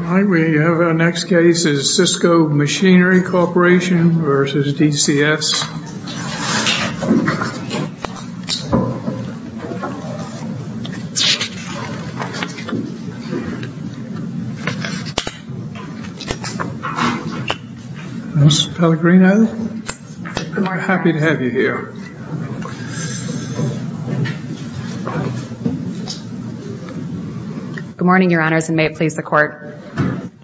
Hi, we have our next case is Sysco Machinery Corporation v. DCS Mrs. Pellegrino, we're happy to have you here Good morning, your honors, and may it please the court.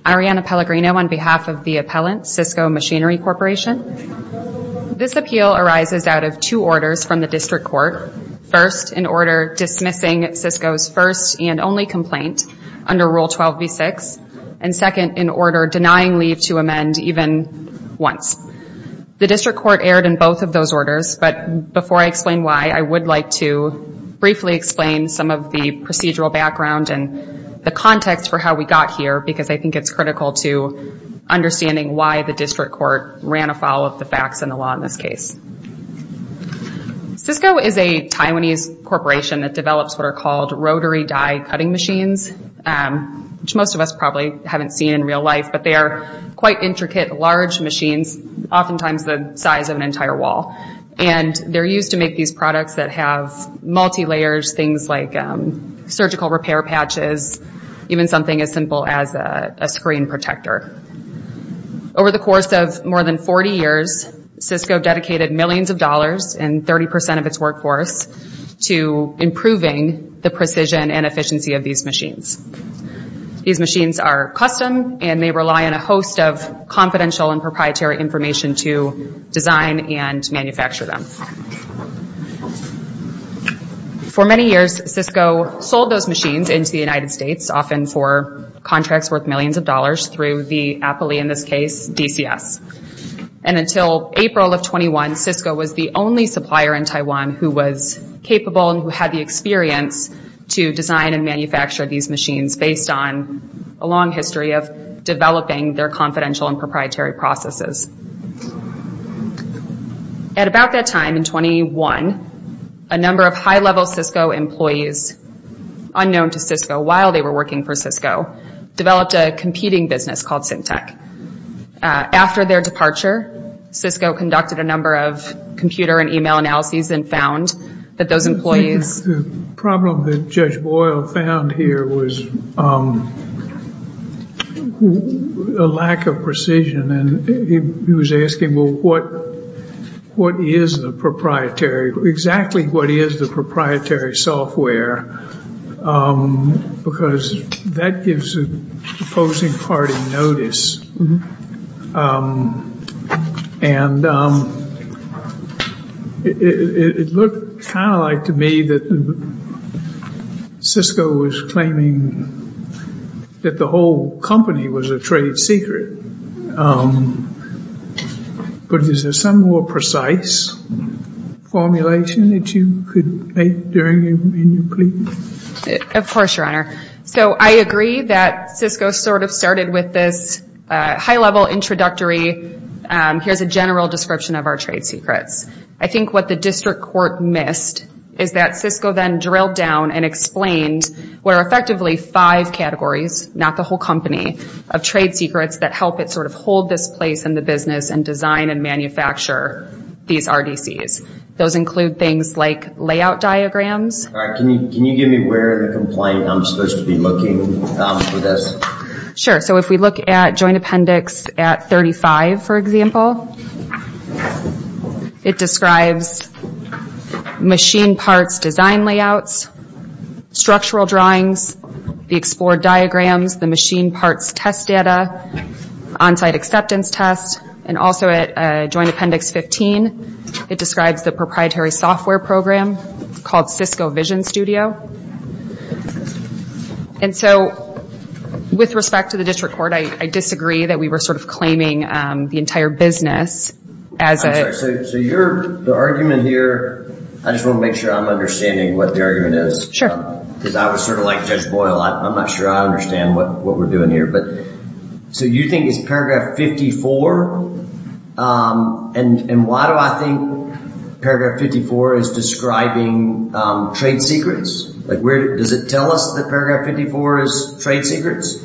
Arianna Pellegrino on behalf of the appellant, Sysco Machinery Corporation. This appeal arises out of two orders from the district court. First, in order dismissing Sysco's first and only complaint under Rule 12b-6, and second, in order denying leave to amend even once. The district court erred in both of those orders, but before I explain why, I would like to briefly explain some of the procedural background and the context for how we got here, because I think it's critical to understanding why the district court ran afoul of the facts in the law in this case. Sysco is a Taiwanese corporation that develops what are called rotary die cutting machines, which most of us probably haven't seen in real life, but they are quite intricate, large machines, oftentimes the size of an entire wall. And they're used to make these products that have multi-layers, things like surgical repair patches, even something as simple as a screen protector. Over the course of more than 40 years, Sysco dedicated millions of dollars and 30% of its workforce to improving the precision and efficiency of these machines. These machines are custom, and they rely on a host of confidential and proprietary information to design and manufacture them. For many years, Sysco sold those machines into the United States, often for contracts worth millions of dollars through the, aptly in this case, DCS. And until April of 21, Sysco was the only supplier in Taiwan who was capable and who had the experience to design and manufacture these machines based on a long history of developing their confidential and proprietary processes. At about that time, in 21, a number of high-level Sysco employees, unknown to Sysco while they were working for Sysco, developed a competing business called Syntech. After their departure, Sysco conducted a number of computer and e-mail analyses and found that those employees... The problem that Judge Boyle found here was a lack of precision. And he was asking, well, what is the proprietary, exactly what is the proprietary software? Because that gives the opposing party notice. And it looked kind of like to me that Sysco was claiming that the whole company was a trade secret. But is there some more precise formulation that you could make during your plea? Of course, Your Honor. So I agree that Sysco sort of started with this high-level introductory, here's a general description of our trade secrets. I think what the district court missed is that Sysco then drilled down and explained what are effectively five categories, not the whole company, of trade secrets that help it sort of hold this place in the business and design and manufacture these RDCs. Those include things like layout diagrams. All right. Can you give me where in the complaint I'm supposed to be looking for this? Sure. So if we look at Joint Appendix 35, for example, it describes machine parts design layouts, structural drawings, the explored diagrams, the machine parts test data, on-site acceptance tests, and also at Joint Appendix 15, it describes the proprietary software program called Sysco Vision Studio. And so with respect to the district court, I disagree that we were sort of claiming the entire business as a— I'm sorry. So the argument here, I just want to make sure I'm understanding what the argument is. Sure. Because I was sort of like Judge Boyle. I'm not sure I understand what we're doing here. So you think it's Paragraph 54? And why do I think Paragraph 54 is describing trade secrets? Does it tell us that Paragraph 54 is trade secrets?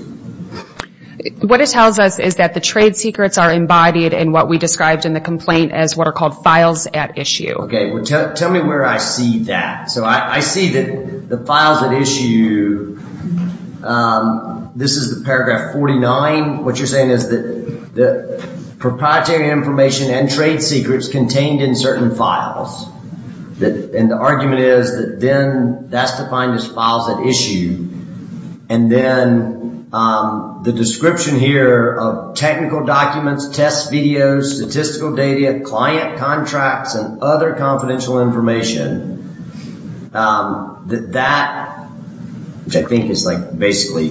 What it tells us is that the trade secrets are embodied in what we described in the complaint as what are called files at issue. Okay. Tell me where I see that. So I see that the files at issue, this is the Paragraph 49. What you're saying is that the proprietary information and trade secrets contained in certain files. And the argument is that then that's defined as files at issue. And then the description here of technical documents, test videos, statistical data, client contracts, and other confidential information. That, which I think is like basically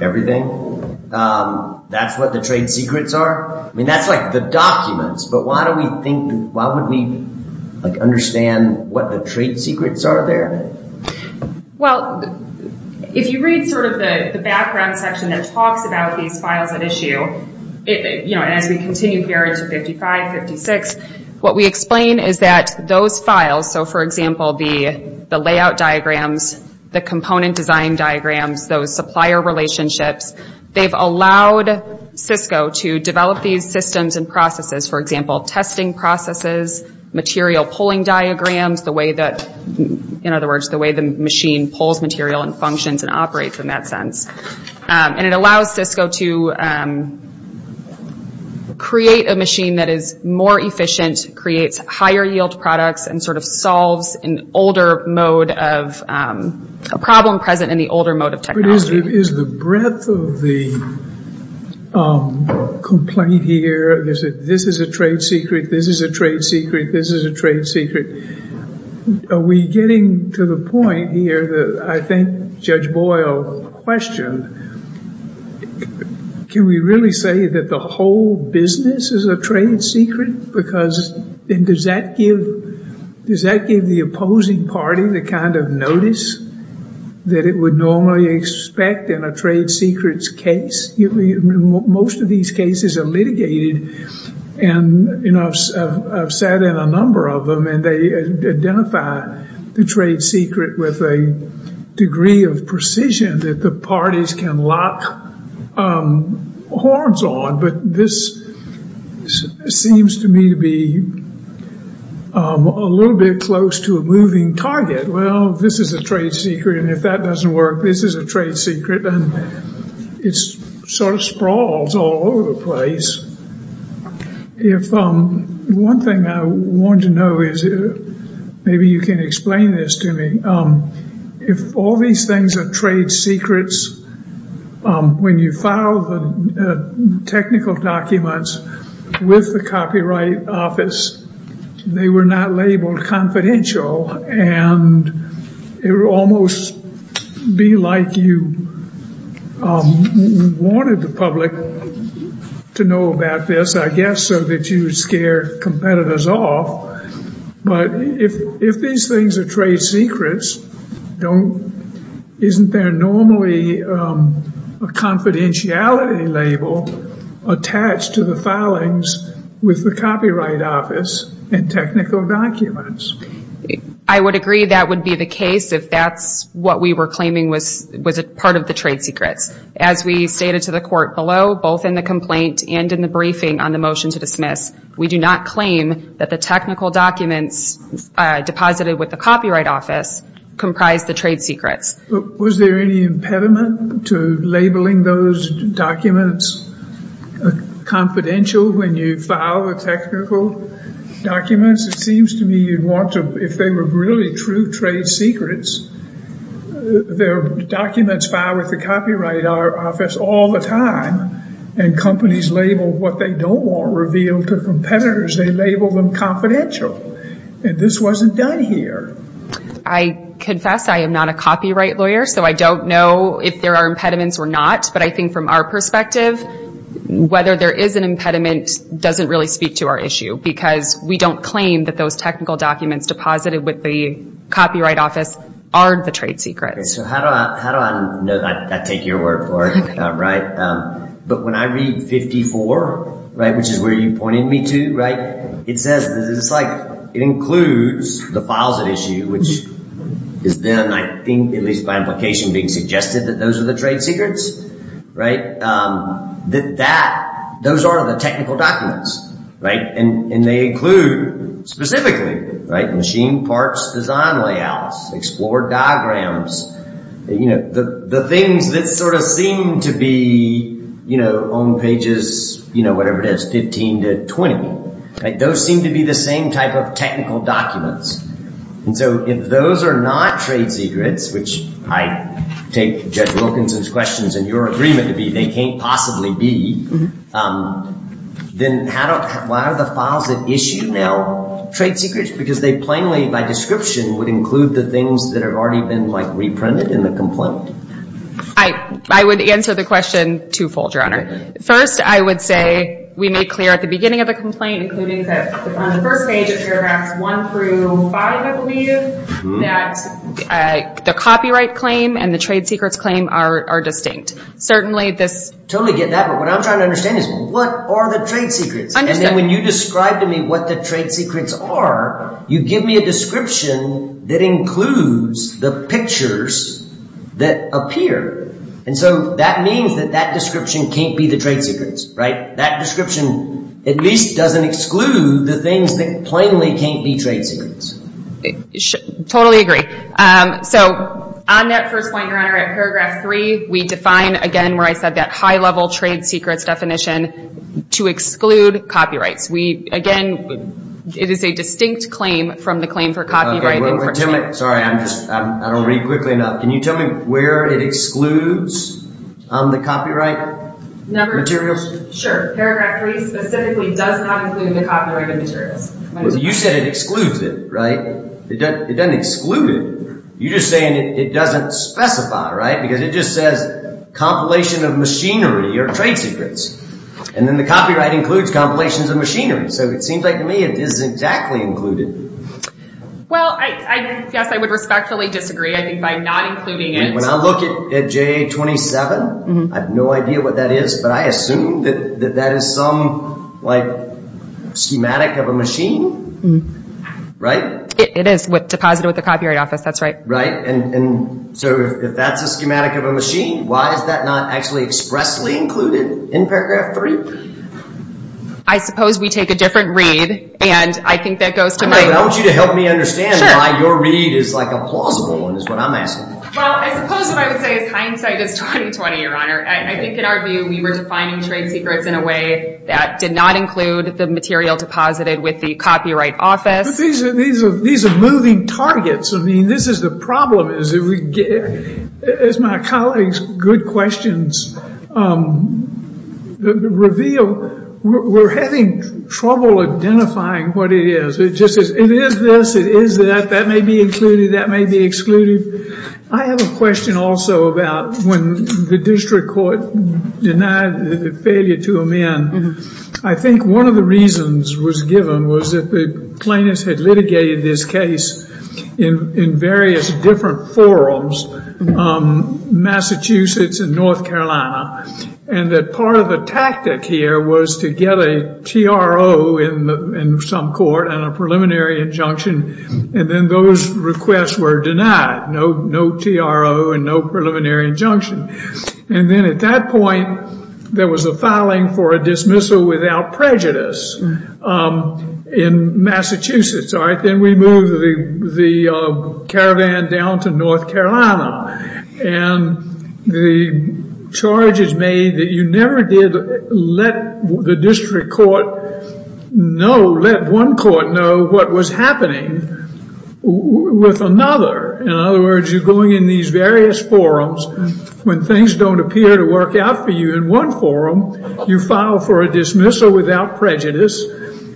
everything, that's what the trade secrets are? I mean, that's like the documents. But why don't we think—why wouldn't we understand what the trade secrets are there? Well, if you read sort of the background section that talks about these files at issue, as we continue here into 55, 56, what we explain is that those files, so for example, the layout diagrams, the component design diagrams, those supplier relationships, they've allowed Cisco to develop these systems and processes. For example, testing processes, material pulling diagrams, in other words, the way the machine pulls material and functions and operates in that sense. And it allows Cisco to create a machine that is more efficient, creates higher yield products, and sort of solves an older mode of—a problem present in the older mode of technology. But is the breadth of the complaint here, this is a trade secret, this is a trade secret, this is a trade secret, are we getting to the point here that I think Judge Boyle questioned? Can we really say that the whole business is a trade secret? Because—and does that give the opposing party the kind of notice that it would normally expect in a trade secrets case? Most of these cases are litigated, and I've sat in a number of them, and they identify the trade secret with a degree of precision that the parties can lock horns on. But this seems to me to be a little bit close to a moving target. Well, this is a trade secret, and if that doesn't work, this is a trade secret, and it sort of sprawls all over the place. If—one thing I want to know is—maybe you can explain this to me. If all these things are trade secrets, when you file the technical documents with the Copyright Office, they were not labeled confidential, and it would almost be like you wanted the public to know about this, I guess, so that you would scare competitors off. But if these things are trade secrets, don't—isn't there normally a confidentiality label attached to the filings with the Copyright Office and technical documents? I would agree that would be the case if that's what we were claiming was part of the trade secrets. As we stated to the court below, both in the complaint and in the briefing on the motion to dismiss, we do not claim that the technical documents deposited with the Copyright Office comprise the trade secrets. Was there any impediment to labeling those documents confidential when you file the technical documents? It seems to me you'd want to—if they were really true trade secrets, their documents file with the Copyright Office all the time, and companies label what they don't want revealed to competitors. They label them confidential, and this wasn't done here. I confess I am not a copyright lawyer, so I don't know if there are impediments or not, but I think from our perspective, whether there is an impediment doesn't really speak to our issue because we don't claim that those technical documents deposited with the Copyright Office aren't the trade secrets. Okay, so how do I—I take your word for it, right? But when I read 54, right, which is where you pointed me to, right, it says—it's like it includes the files at issue, which is then, I think, at least by implication being suggested that those are the trade secrets, right? That those are the technical documents, right? And they include specifically, right, machine parts design layouts, explore diagrams, you know, the things that sort of seem to be, you know, on pages, you know, whatever it is, 15 to 20, right? Those seem to be the same type of technical documents. And so if those are not trade secrets, which I take Judge Wilkinson's questions and your agreement to be they can't possibly be, then how do—why are the files at issue now trade secrets? Because they plainly, by description, would include the things that have already been, like, reprinted in the complaint. I would answer the question twofold, Your Honor. First, I would say we made clear at the beginning of the complaint, including that on the first page of paragraphs 1 through 5, I believe, that the copyright claim and the trade secrets claim are distinct. Certainly this— Totally get that. But what I'm trying to understand is what are the trade secrets? And then when you describe to me what the trade secrets are, you give me a description that includes the pictures that appear. And so that means that that description can't be the trade secrets, right? That description at least doesn't exclude the things that plainly can't be trade secrets. Totally agree. So on that first point, Your Honor, at paragraph 3, we define, again, where I said that high-level trade secrets definition to exclude copyrights. Again, it is a distinct claim from the claim for copyright infringement. Sorry, I'm just—I don't read quickly enough. Can you tell me where it excludes on the copyright materials? Sure. Paragraph 3 specifically does not include the copyrighted materials. You said it excludes it, right? It doesn't exclude it. You're just saying it doesn't specify, right? Because it just says compilation of machinery or trade secrets. And then the copyright includes compilations of machinery. So it seems like to me it isn't exactly included. Well, I guess I would respectfully disagree, I think, by not including it. When I look at JA-27, I have no idea what that is, but I assume that that is some, like, schematic of a machine, right? It is deposited with the Copyright Office. That's right. Right. And so if that's a schematic of a machine, why is that not actually expressly included in paragraph 3? I suppose we take a different read, and I think that goes to my— I want you to help me understand why your read is like a plausible one is what I'm asking for. Well, I suppose what I would say is hindsight is 20-20, Your Honor. I think in our view we were defining trade secrets in a way that did not include the material deposited with the Copyright Office. But these are moving targets. I mean, this is the problem is, as my colleague's good questions reveal, we're having trouble identifying what it is. It just is, it is this, it is that, that may be included, that may be excluded. I have a question also about when the district court denied the failure to amend. I think one of the reasons was given was that the plaintiffs had litigated this case in various different forums, Massachusetts and North Carolina, and that part of the tactic here was to get a TRO in some court and a preliminary injunction, and then those requests were denied, no TRO and no preliminary injunction. And then at that point there was a filing for a dismissal without prejudice in Massachusetts, all right? Then we moved the caravan down to North Carolina, and the charge is made that you never did let the district court know, let one court know what was happening with another. In other words, you're going in these various forums. When things don't appear to work out for you in one forum, you file for a dismissal without prejudice,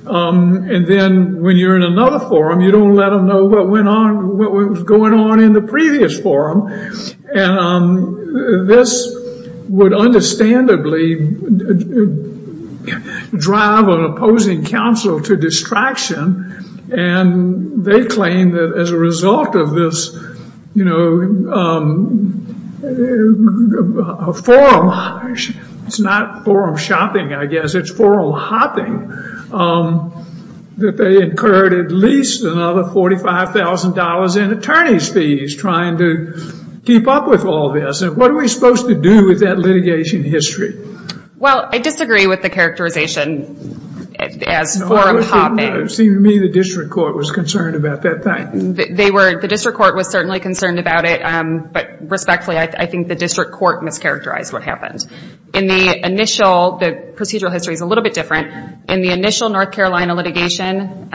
and then when you're in another forum, you don't let them know what went on, what was going on in the previous forum, and this would understandably drive an opposing counsel to distraction, and they claim that as a result of this, you know, forum, it's not forum shopping, I guess, it's forum hopping, that they incurred at least another $45,000 in attorney's fees trying to keep up with all this, and what are we supposed to do with that litigation history? Well, I disagree with the characterization as forum hopping. It seemed to me the district court was concerned about that fact. The district court was certainly concerned about it, but respectfully, I think the district court mischaracterized what happened. In the initial, the procedural history is a little bit different. In the initial North Carolina litigation,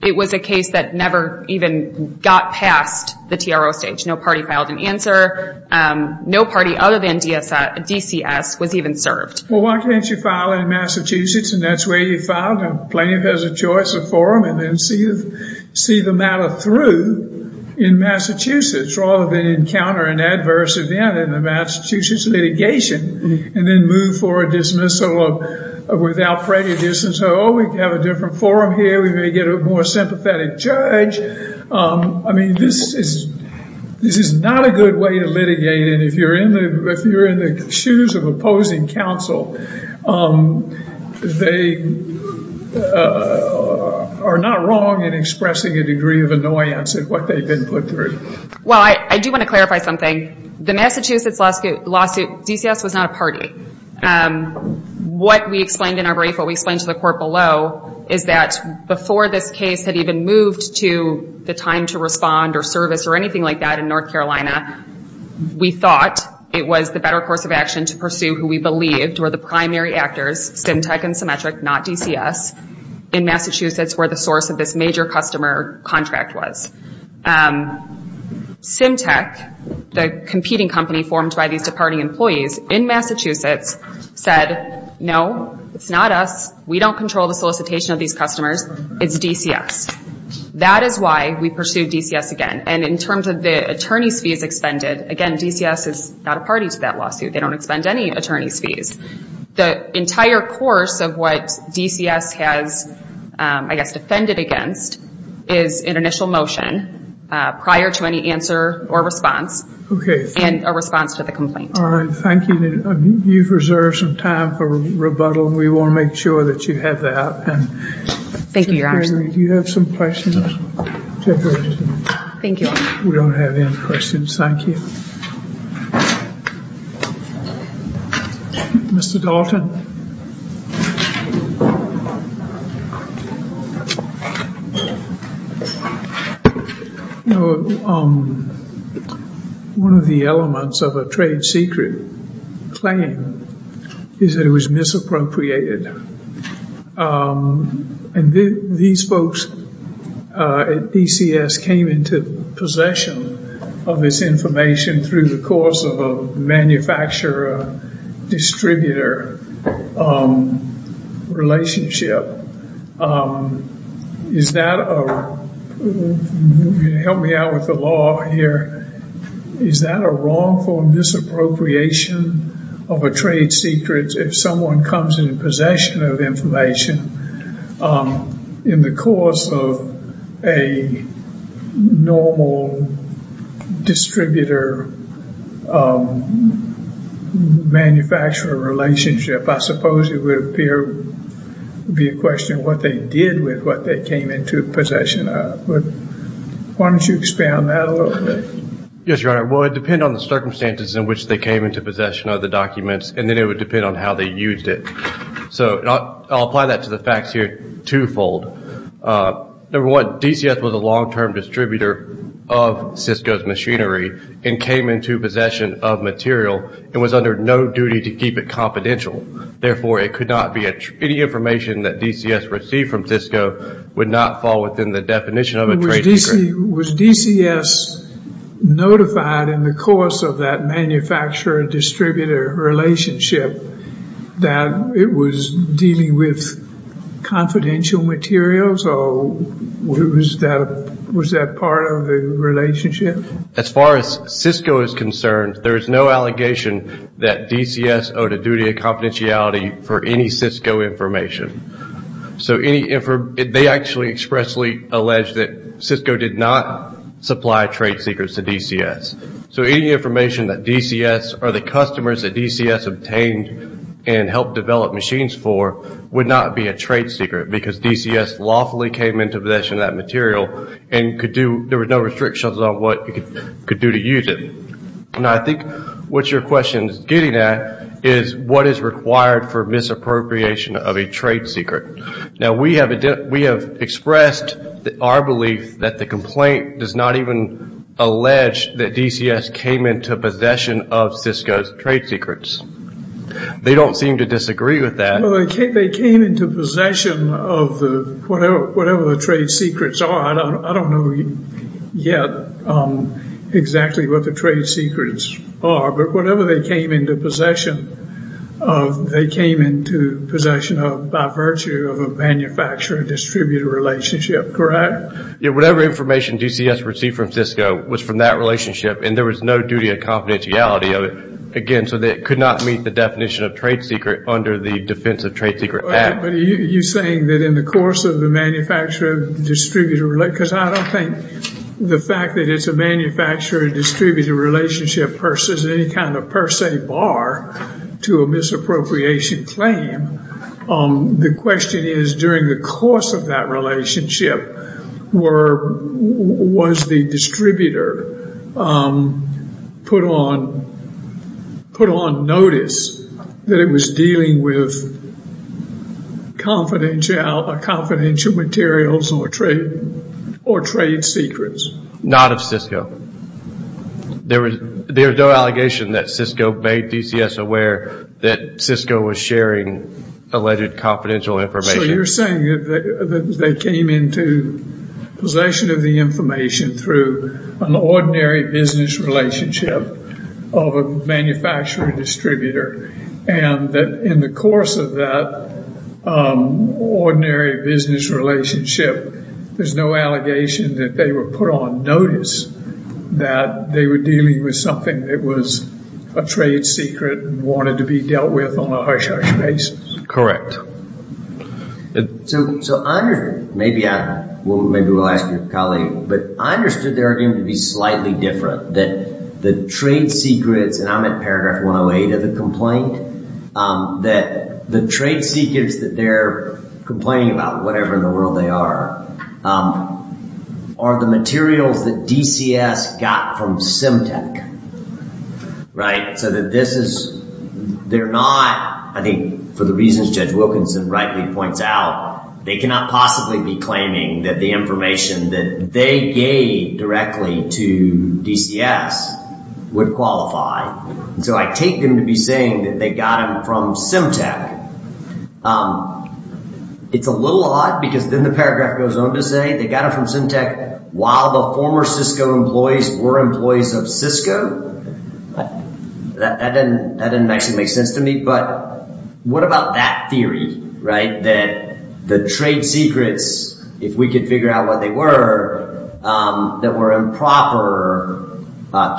it was a case that never even got past the TRO stage. No party filed an answer. No party other than DCS was even served. Well, why can't you file in Massachusetts, and that's where you filed, and plaintiff has a choice of forum, and then see the matter through in Massachusetts, rather than encounter an adverse event in the Massachusetts litigation, and then move for a dismissal without prejudice and say, oh, we have a different forum here. We may get a more sympathetic judge. I mean, this is not a good way to litigate, and if you're in the shoes of opposing counsel, they are not wrong in expressing a degree of annoyance at what they've been put through. Well, I do want to clarify something. The Massachusetts lawsuit, DCS was not a party. What we explained in our brief, what we explained to the court below, is that before this case had even moved to the time to respond or service or anything like that in North Carolina, we thought it was the better course of action to pursue who we believed were the primary actors, SimTech and Symmetric, not DCS, in Massachusetts, where the source of this major customer contract was. SimTech, the competing company formed by these departing employees in Massachusetts, said, no, it's not us. We don't control the solicitation of these customers. It's DCS. That is why we pursued DCS again. And in terms of the attorney's fees expended, again, DCS is not a party to that lawsuit. They don't expend any attorney's fees. The entire course of what DCS has, I guess, defended against, is an initial motion prior to any answer or response and a response to the complaint. All right. Thank you. You've reserved some time for rebuttal, and we want to make sure that you have that. Thank you, Your Honor. Do you have some questions? Thank you. We don't have any questions. Thank you. Mr. Dalton. One of the elements of a trade secret claim is that it was misappropriated. And these folks at DCS came into possession of this information through the course of a manufacturer-distributor relationship. Help me out with the law here. Is that a wrongful misappropriation of a trade secret if someone comes in possession of information in the course of a normal distributor-manufacturer relationship? I suppose it would appear to be a question of what they did with what they came into possession of. Why don't you expand that a little bit? Yes, Your Honor. Well, it would depend on the circumstances in which they came into possession of the documents, and then it would depend on how they used it. So I'll apply that to the facts here twofold. Number one, DCS was a long-term distributor of Cisco's machinery and came into possession of material and was under no duty to keep it confidential. Therefore, it could not be any information that DCS received from Cisco would not fall within the definition of a trade secret. Was DCS notified in the course of that manufacturer-distributor relationship that it was dealing with confidential materials, or was that part of the relationship? As far as Cisco is concerned, there is no allegation that DCS owed a duty of confidentiality for any Cisco information. They actually expressly allege that Cisco did not supply trade secrets to DCS. So any information that DCS or the customers that DCS obtained and helped develop machines for would not be a trade secret because DCS lawfully came into possession of that material and there were no restrictions on what it could do to use it. Now I think what your question is getting at is what is required for misappropriation of a trade secret. Now we have expressed our belief that the complaint does not even allege that DCS came into possession of Cisco's trade secrets. They don't seem to disagree with that. They came into possession of whatever the trade secrets are. I don't know yet exactly what the trade secrets are, but whatever they came into possession of, they came into possession of by virtue of a manufacturer-distributor relationship, correct? Whatever information DCS received from Cisco was from that relationship and there was no duty of confidentiality of it, again, so that it could not meet the definition of trade secret under the Defense of Trade Secret Act. But you're saying that in the course of the manufacturer-distributor relationship, because I don't think the fact that it's a manufacturer-distributor relationship pursues any kind of per se bar to a misappropriation claim. The question is during the course of that relationship, was the distributor put on notice that it was dealing with confidential materials or trade secrets? Not of Cisco. There is no allegation that Cisco made DCS aware that Cisco was sharing alleged confidential information. So you're saying that they came into possession of the information through an ordinary business relationship of a manufacturer-distributor and that in the course of that ordinary business relationship, there's no allegation that they were put on notice that they were dealing with something that was a trade secret and wanted to be dealt with on a hush-hush basis. Correct. So I understand, maybe we'll ask your colleague, but I understood the argument to be slightly different, that the trade secrets, and I'm at paragraph 108 of the complaint, that the trade secrets that they're complaining about, whatever in the world they are, are the materials that DCS got from Simtek, right? So that this is, they're not, I think for the reasons Judge Wilkinson rightly points out, they cannot possibly be claiming that the information that they gave directly to DCS would qualify. And so I take them to be saying that they got them from Simtek. It's a little odd because then the paragraph goes on to say they got it from Simtek while the former Cisco employees were employees of Cisco. That didn't actually make sense to me. But what about that theory, right? That the trade secrets, if we could figure out what they were, that were improper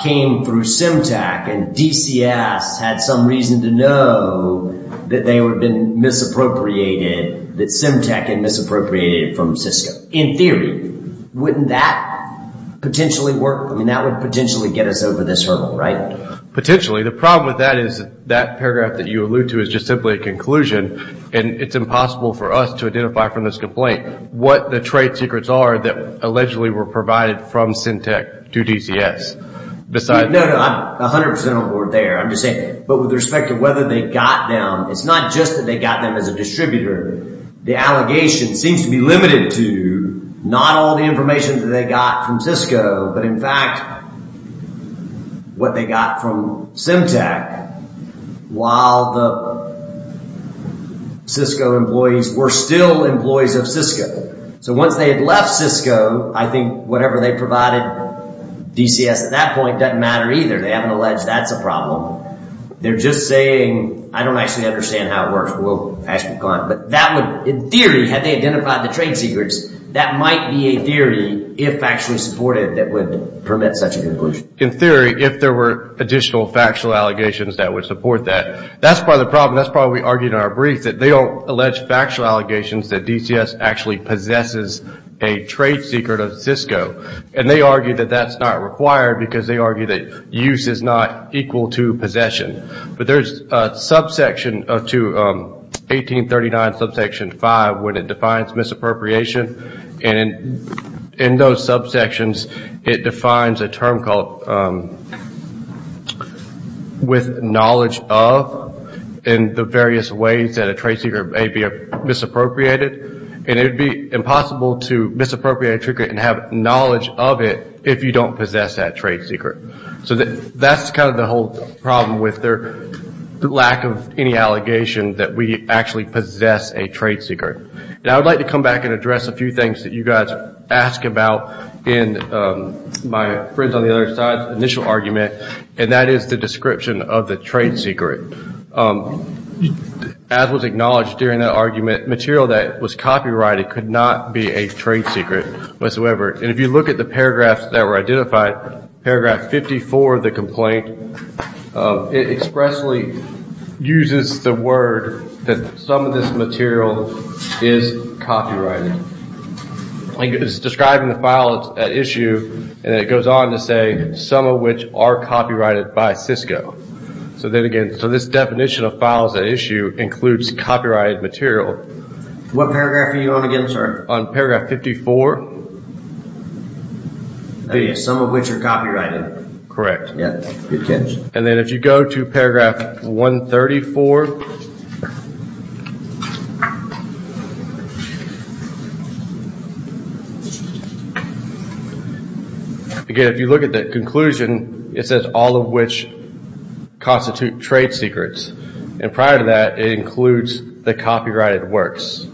came through Simtek and DCS had some reason to know that they had been misappropriated, that Simtek had been misappropriated from Cisco. In theory, wouldn't that potentially work? I mean, that would potentially get us over this hurdle, right? Potentially. The problem with that is that paragraph that you allude to is just simply a conclusion and it's impossible for us to identify from this complaint what the trade secrets are that allegedly were provided from Simtek to DCS. No, no, I'm 100% on board there. I'm just saying, but with respect to whether they got them, it's not just that they got them as a distributor. The allegation seems to be limited to not all the information that they got from Cisco, but in fact, what they got from Simtek while the Cisco employees were still employees of Cisco. So once they had left Cisco, I think whatever they provided DCS at that point doesn't matter either. They haven't alleged that's a problem. They're just saying, I don't actually understand how it works. We'll ask the client. But that would, in theory, had they identified the trade secrets, that might be a theory, if actually supported, that would permit such a conclusion. In theory, if there were additional factual allegations that would support that. That's part of the problem. That's probably what we argued in our brief, that they don't allege factual allegations that DCS actually possesses a trade secret of Cisco. And they argue that that's not required because they argue that use is not equal to possession. But there's a subsection to 1839 subsection 5 where it defines misappropriation. And in those subsections, it defines a term called, with knowledge of, in the various ways that a trade secret may be misappropriated. And it would be impossible to misappropriate a trade secret and have knowledge of it if you don't possess that trade secret. So that's kind of the whole problem with their lack of any allegation that we actually possess a trade secret. And I would like to come back and address a few things that you guys ask about in my friends on the other side's initial argument. And that is the description of the trade secret. As was acknowledged during that argument, material that was copyrighted could not be a trade secret whatsoever. And if you look at the paragraphs that were identified, paragraph 54 of the complaint, it expressly uses the word that some of this material is copyrighted. It's describing the files at issue and it goes on to say some of which are copyrighted by Cisco. So then again, so this definition of files at issue includes copyrighted material. What paragraph are you on again, sir? On paragraph 54. Some of which are copyrighted. Correct. And then if you go to paragraph 134. Again, if you look at the conclusion, it says all of which constitute trade secrets. And prior to that, it includes the copyrighted works.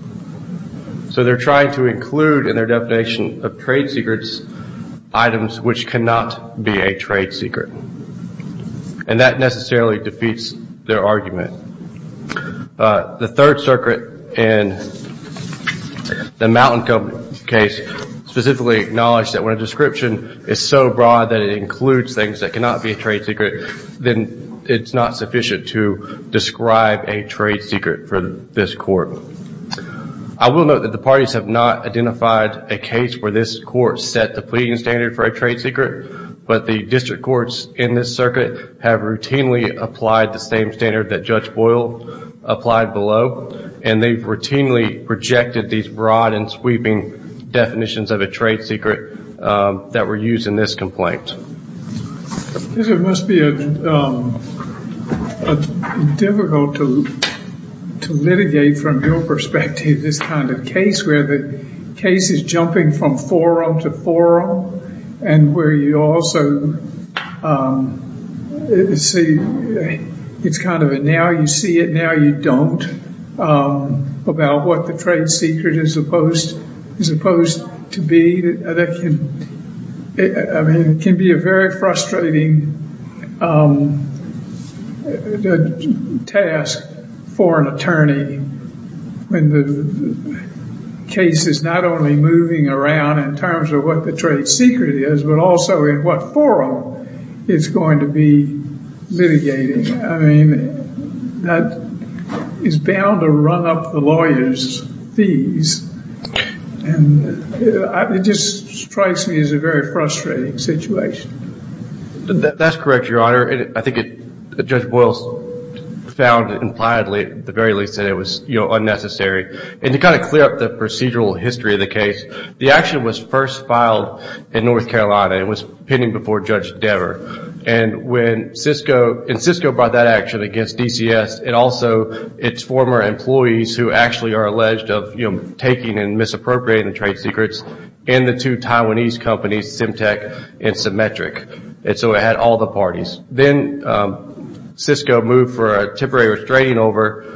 So they're trying to include in their definition of trade secrets items which cannot be a trade secret. And that necessarily defeats their argument. The Third Circuit in the Mountain Cove case specifically acknowledged that when a description is so broad that it includes things that cannot be a trade secret, then it's not sufficient to describe a trade secret for this court. I will note that the parties have not identified a case where this court set the pleading standard for a trade secret. But the district courts in this circuit have routinely applied the same standard that Judge Boyle applied below. And they routinely rejected these broad and sweeping definitions of a trade secret that were used in this complaint. It must be difficult to litigate from your perspective this kind of case where the case is jumping from forum to forum. And where you also see it's kind of a now you see it, now you don't about what the trade secret is supposed to be. It can be a very frustrating task for an attorney when the case is not only moving around in terms of what the trade secret is, but also in what forum it's going to be litigating. I mean, that is bound to run up the lawyers' fees. And it just strikes me as a very frustrating situation. That's correct, Your Honor. I think Judge Boyle found it impliedly, at the very least, that it was unnecessary. And to kind of clear up the procedural history of the case, the action was first filed in North Carolina. It was pending before Judge Dever. And Cisco brought that action against DCS and also its former employees, who actually are alleged of taking and misappropriating the trade secrets, and the two Taiwanese companies, Symtec and Symmetric. And so it had all the parties. Then Cisco moved for a temporary restraining order.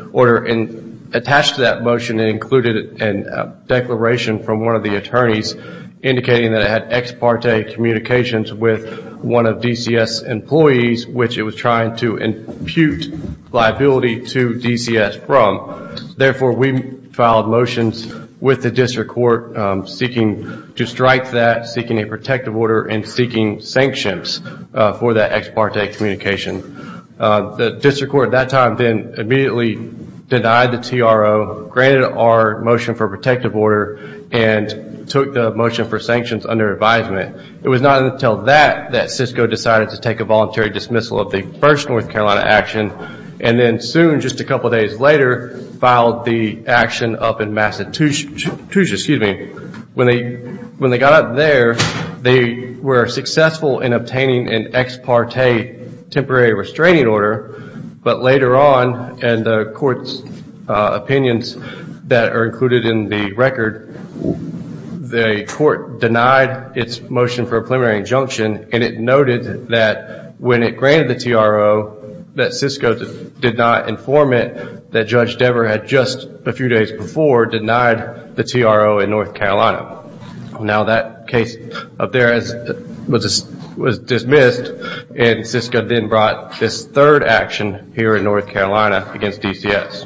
Attached to that motion included a declaration from one of the attorneys indicating that it had ex parte communications with one of DCS employees, which it was trying to impute liability to DCS from. Therefore, we filed motions with the district court seeking to strike that, seeking a protective order, and seeking sanctions for that ex parte communication. The district court at that time then immediately denied the TRO, granted our motion for protective order, and took the motion for sanctions under advisement. It was not until that that Cisco decided to take a voluntary dismissal of the first North Carolina action. And then soon, just a couple of days later, filed the action up in Massachusetts. When they got up there, they were successful in obtaining an ex parte temporary restraining order. But later on, in the court's opinions that are included in the record, the court denied its motion for a preliminary injunction, and it noted that when it granted the TRO that Cisco did not inform it that Judge Dever had just a few days before denied the TRO in North Carolina. Now that case up there was dismissed, and Cisco then brought this third action here in North Carolina against DCS.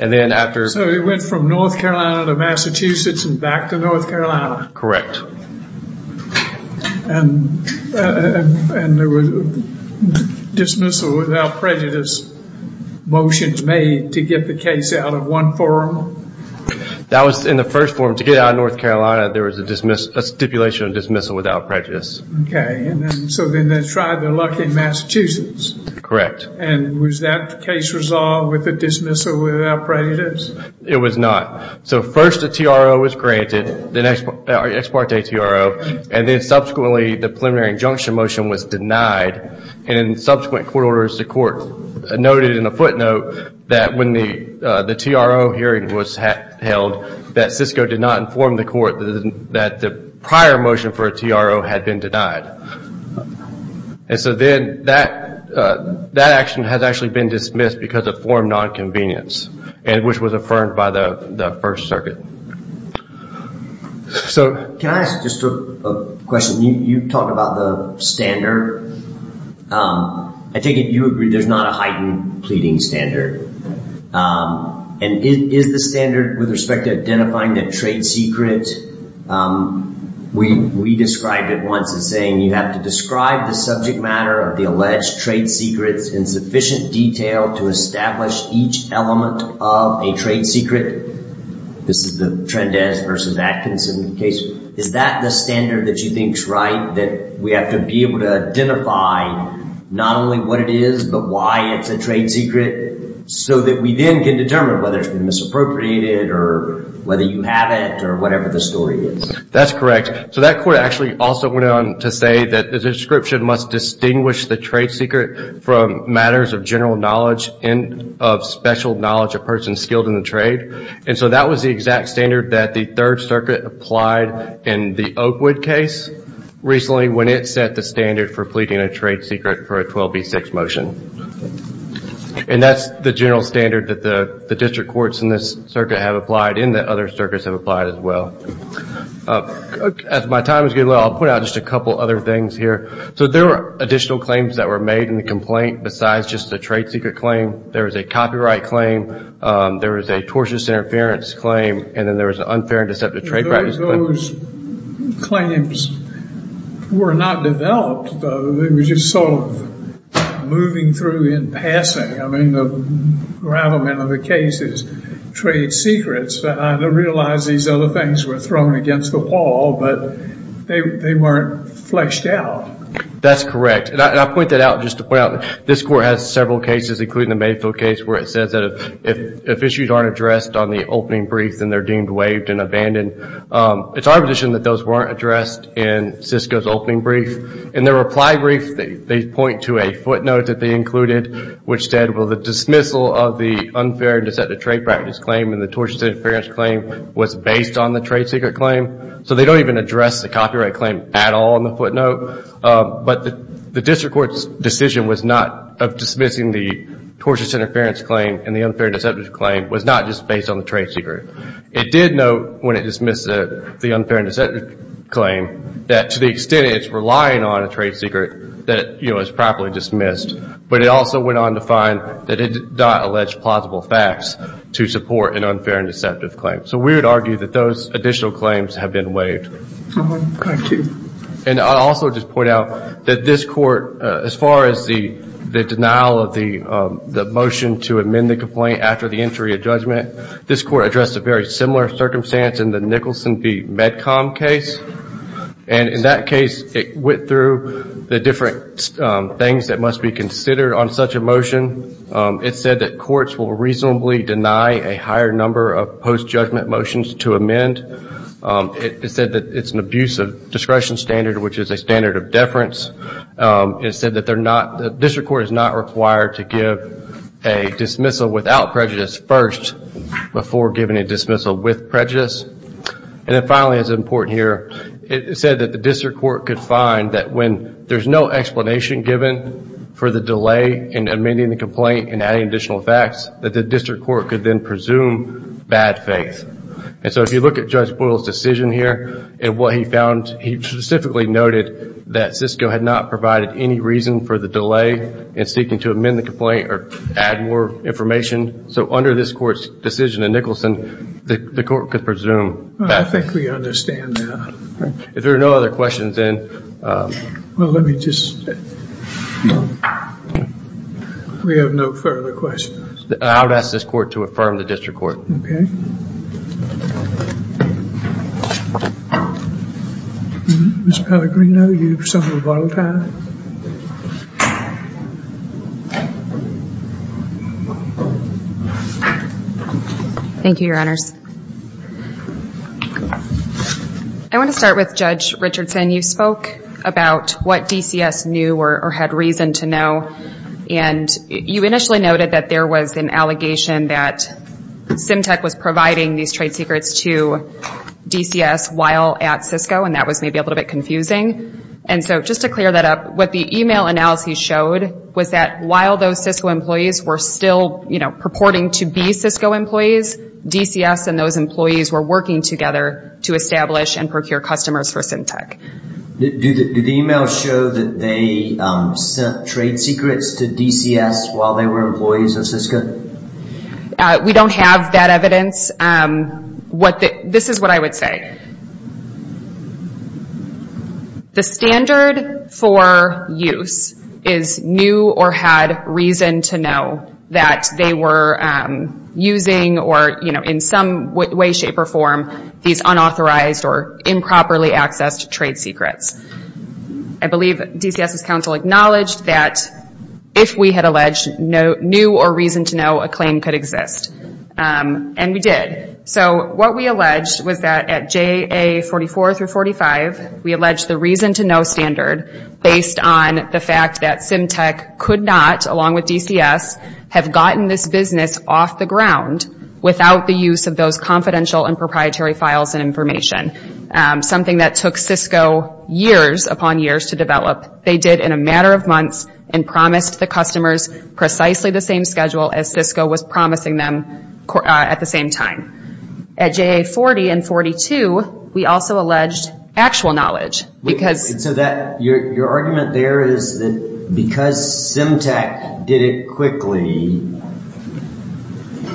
And then after... So it went from North Carolina to Massachusetts and back to North Carolina? Correct. And there was a dismissal without prejudice motions made to get the case out of one forum? That was in the first forum. To get it out of North Carolina, there was a stipulation of dismissal without prejudice. Okay. So then they tried their luck in Massachusetts? Correct. And was that case resolved with a dismissal without prejudice? It was not. So first the TRO was granted, the ex parte TRO, and then subsequently the preliminary injunction motion was denied. And in subsequent court orders, the court noted in a footnote that when the TRO hearing was held, that Cisco did not inform the court that the prior motion for a TRO had been denied. And so then that action has actually been dismissed because of forum nonconvenience, which was affirmed by the First Circuit. Can I ask just a question? You talk about the standard. I take it you agree there's not a heightened pleading standard. And is the standard with respect to identifying the trade secret, we described it once as saying, you have to describe the subject matter of the alleged trade secrets in sufficient detail to establish each element of a trade secret. This is the Trendez versus Atkinson case. Is that the standard that you think is right, that we have to be able to identify not only what it is but why it's a trade secret, so that we then can determine whether it's been misappropriated or whether you have it or whatever the story is? That's correct. So that court actually also went on to say that the description must distinguish the trade secret from matters of general knowledge and of special knowledge of persons skilled in the trade. And so that was the exact standard that the Third Circuit applied in the Oakwood case recently when it set the standard for pleading a trade secret for a 12B6 motion. And that's the general standard that the district courts in this circuit have applied and that other circuits have applied as well. As my time is getting low, I'll point out just a couple other things here. So there were additional claims that were made in the complaint besides just the trade secret claim. There was a copyright claim. There was a tortious interference claim. And then there was an unfair and deceptive trade practice claim. Those claims were not developed, though. They were just sort of moving through in passing. I mean, the rattlement of the case is trade secrets. I realize these other things were thrown against the wall, but they weren't fleshed out. That's correct. And I point that out just to point out this court has several cases, including the Mayfield case, where it says that if issues aren't addressed on the opening brief, then they're deemed waived and abandoned. It's our position that those weren't addressed in Cisco's opening brief. In their reply brief, they point to a footnote that they included, which said, well, the dismissal of the unfair and deceptive trade practice claim and the tortious interference claim was based on the trade secret claim. So they don't even address the copyright claim at all in the footnote. But the district court's decision of dismissing the tortious interference claim and the unfair and deceptive claim was not just based on the trade secret. It did note when it dismissed the unfair and deceptive claim that to the extent it's relying on a trade secret that it was properly dismissed. But it also went on to find that it did not allege plausible facts to support an unfair and deceptive claim. So we would argue that those additional claims have been waived. Thank you. And I'll also just point out that this court, as far as the denial of the motion to amend the complaint after the entry of judgment, this court addressed a very similar circumstance in the Nicholson v. Medcom case. And in that case, it went through the different things that must be considered on such a motion. It said that courts will reasonably deny a higher number of post-judgment motions to amend. It said that it's an abuse of discretion standard, which is a standard of deference. It said that the district court is not required to give a dismissal without prejudice first before giving a dismissal with prejudice. And then finally, it's important here. It said that the district court could find that when there's no explanation given for the delay in amending the complaint and adding additional facts, that the district court could then presume bad faith. And so if you look at Judge Boyle's decision here and what he found, he specifically noted that Cisco had not provided any reason for the delay in seeking to amend the complaint or add more information. So under this court's decision in Nicholson, the court could presume that. I think we understand that. If there are no other questions, then. Well, let me just. We have no further questions. I would ask this court to affirm the district court. Okay. Ms. Pellegrino, you have some rebuttal time. Thank you, Your Honors. I want to start with Judge Richardson. You spoke about what DCS knew or had reason to know. And you initially noted that there was an allegation that SimTech was providing these trade secrets to DCS while at Cisco, and that was maybe a little bit confusing. And so just to clear that up, what the email analysis showed was that while those Cisco employees were still, you know, purporting to be Cisco employees, DCS and those employees were working together to establish and procure customers for SimTech. Did the email show that they sent trade secrets to DCS while they were employees at Cisco? We don't have that evidence. This is what I would say. The standard for use is knew or had reason to know that they were using or, you know, in some way, shape, or form, these unauthorized or improperly accessed trade secrets. I believe DCS's counsel acknowledged that if we had alleged knew or reason to know, a claim could exist. And we did. So what we alleged was that at JA44 through 45, we alleged the reason to know standard based on the fact that SimTech could not, along with DCS, have gotten this business off the ground without the use of those confidential and proprietary files and information, something that took Cisco years upon years to develop. They did in a matter of months and promised the customers precisely the same schedule as Cisco was promising them at the same time. At JA40 and 42, we also alleged actual knowledge. Your argument there is that because SimTech did it quickly,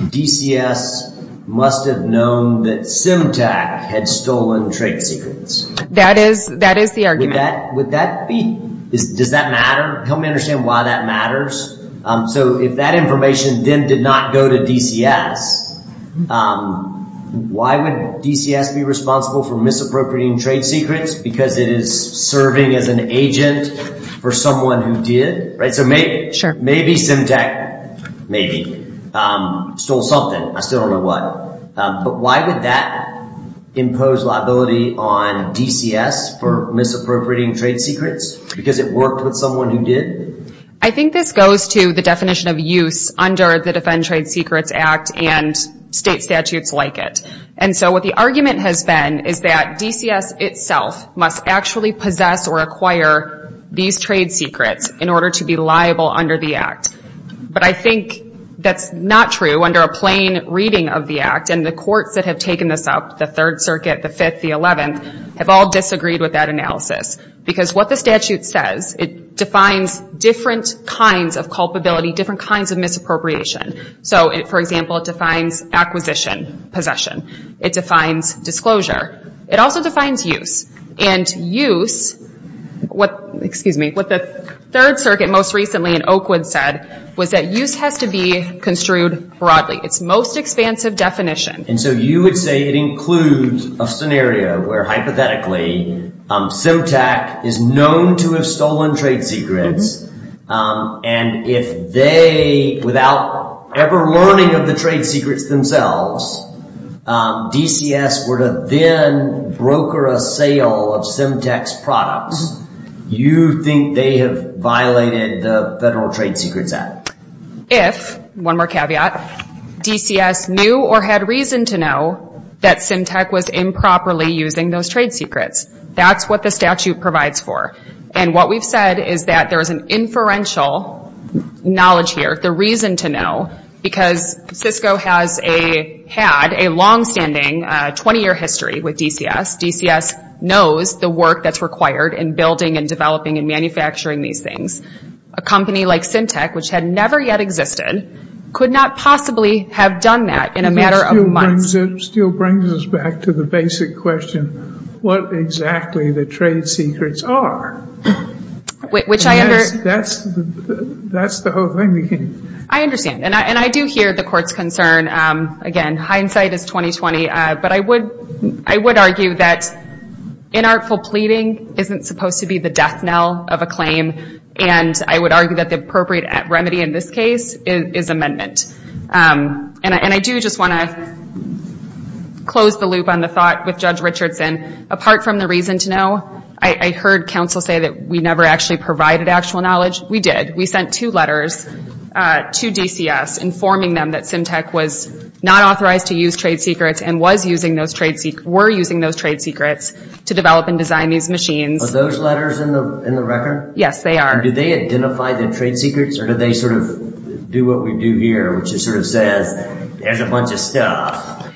DCS must have known that SimTech had stolen trade secrets. That is the argument. Does that matter? Help me understand why that matters. So if that information then did not go to DCS, why would DCS be responsible for misappropriating trade secrets? Because it is serving as an agent for someone who did, right? So maybe SimTech maybe stole something. I still don't know what. But why would that impose liability on DCS for misappropriating trade secrets? Because it worked with someone who did? I think this goes to the definition of use under the Defend Trade Secrets Act and state statutes like it. And so what the argument has been is that DCS itself must actually possess or acquire these trade secrets in order to be liable under the Act. But I think that's not true under a plain reading of the Act. And the courts that have taken this up, the Third Circuit, the Fifth, the Eleventh, have all disagreed with that analysis. Because what the statute says, it defines different kinds of culpability, different kinds of misappropriation. So, for example, it defines acquisition, possession. It defines disclosure. It also defines use. And use, what the Third Circuit most recently in Oakwood said, was that use has to be construed broadly. It's most expansive definition. And so you would say it includes a scenario where hypothetically SimTech is known to have stolen trade secrets. And if they, without ever learning of the trade secrets themselves, DCS were to then broker a sale of SimTech's products, you think they have violated the Federal Trade Secrets Act? If, one more caveat, DCS knew or had reason to know that SimTech was improperly using those trade secrets. That's what the statute provides for. And what we've said is that there's an inferential knowledge here, the reason to know, because Cisco has had a longstanding 20-year history with DCS. DCS knows the work that's required in building and developing and manufacturing these things. A company like SimTech, which had never yet existed, could not possibly have done that in a matter of months. It still brings us back to the basic question, what exactly the trade secrets are. Which I understand. That's the whole thing. I understand. And I do hear the Court's concern. Again, hindsight is 20-20. But I would argue that inartful pleading isn't supposed to be the death knell of a claim. And I would argue that the appropriate remedy in this case is amendment. And I do just want to close the loop on the thought with Judge Richardson. Apart from the reason to know, I heard counsel say that we never actually provided actual knowledge. We did. We sent two letters to DCS informing them that SimTech was not authorized to use trade secrets and were using those trade secrets to develop and design these machines. Are those letters in the record? Yes, they are. Do they identify the trade secrets or do they sort of do what we do here, which is sort of says there's a bunch of stuff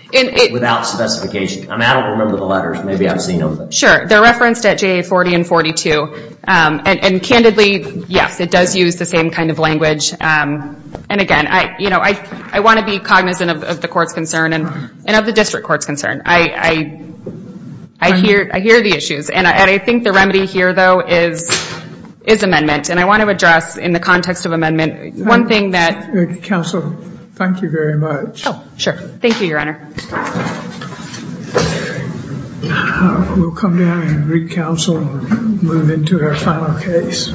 without specification? I don't remember the letters. Maybe I've seen them. Sure. They're referenced at JA 40 and 42. And candidly, yes, it does use the same kind of language. And again, I want to be cognizant of the Court's concern and of the District Court's concern. I hear the issues. And I think the remedy here, though, is amendment. And I want to address in the context of amendment one thing that... Counsel, thank you very much. Oh, sure. Thank you, Your Honor. We'll come down and recounsel and move into our final case.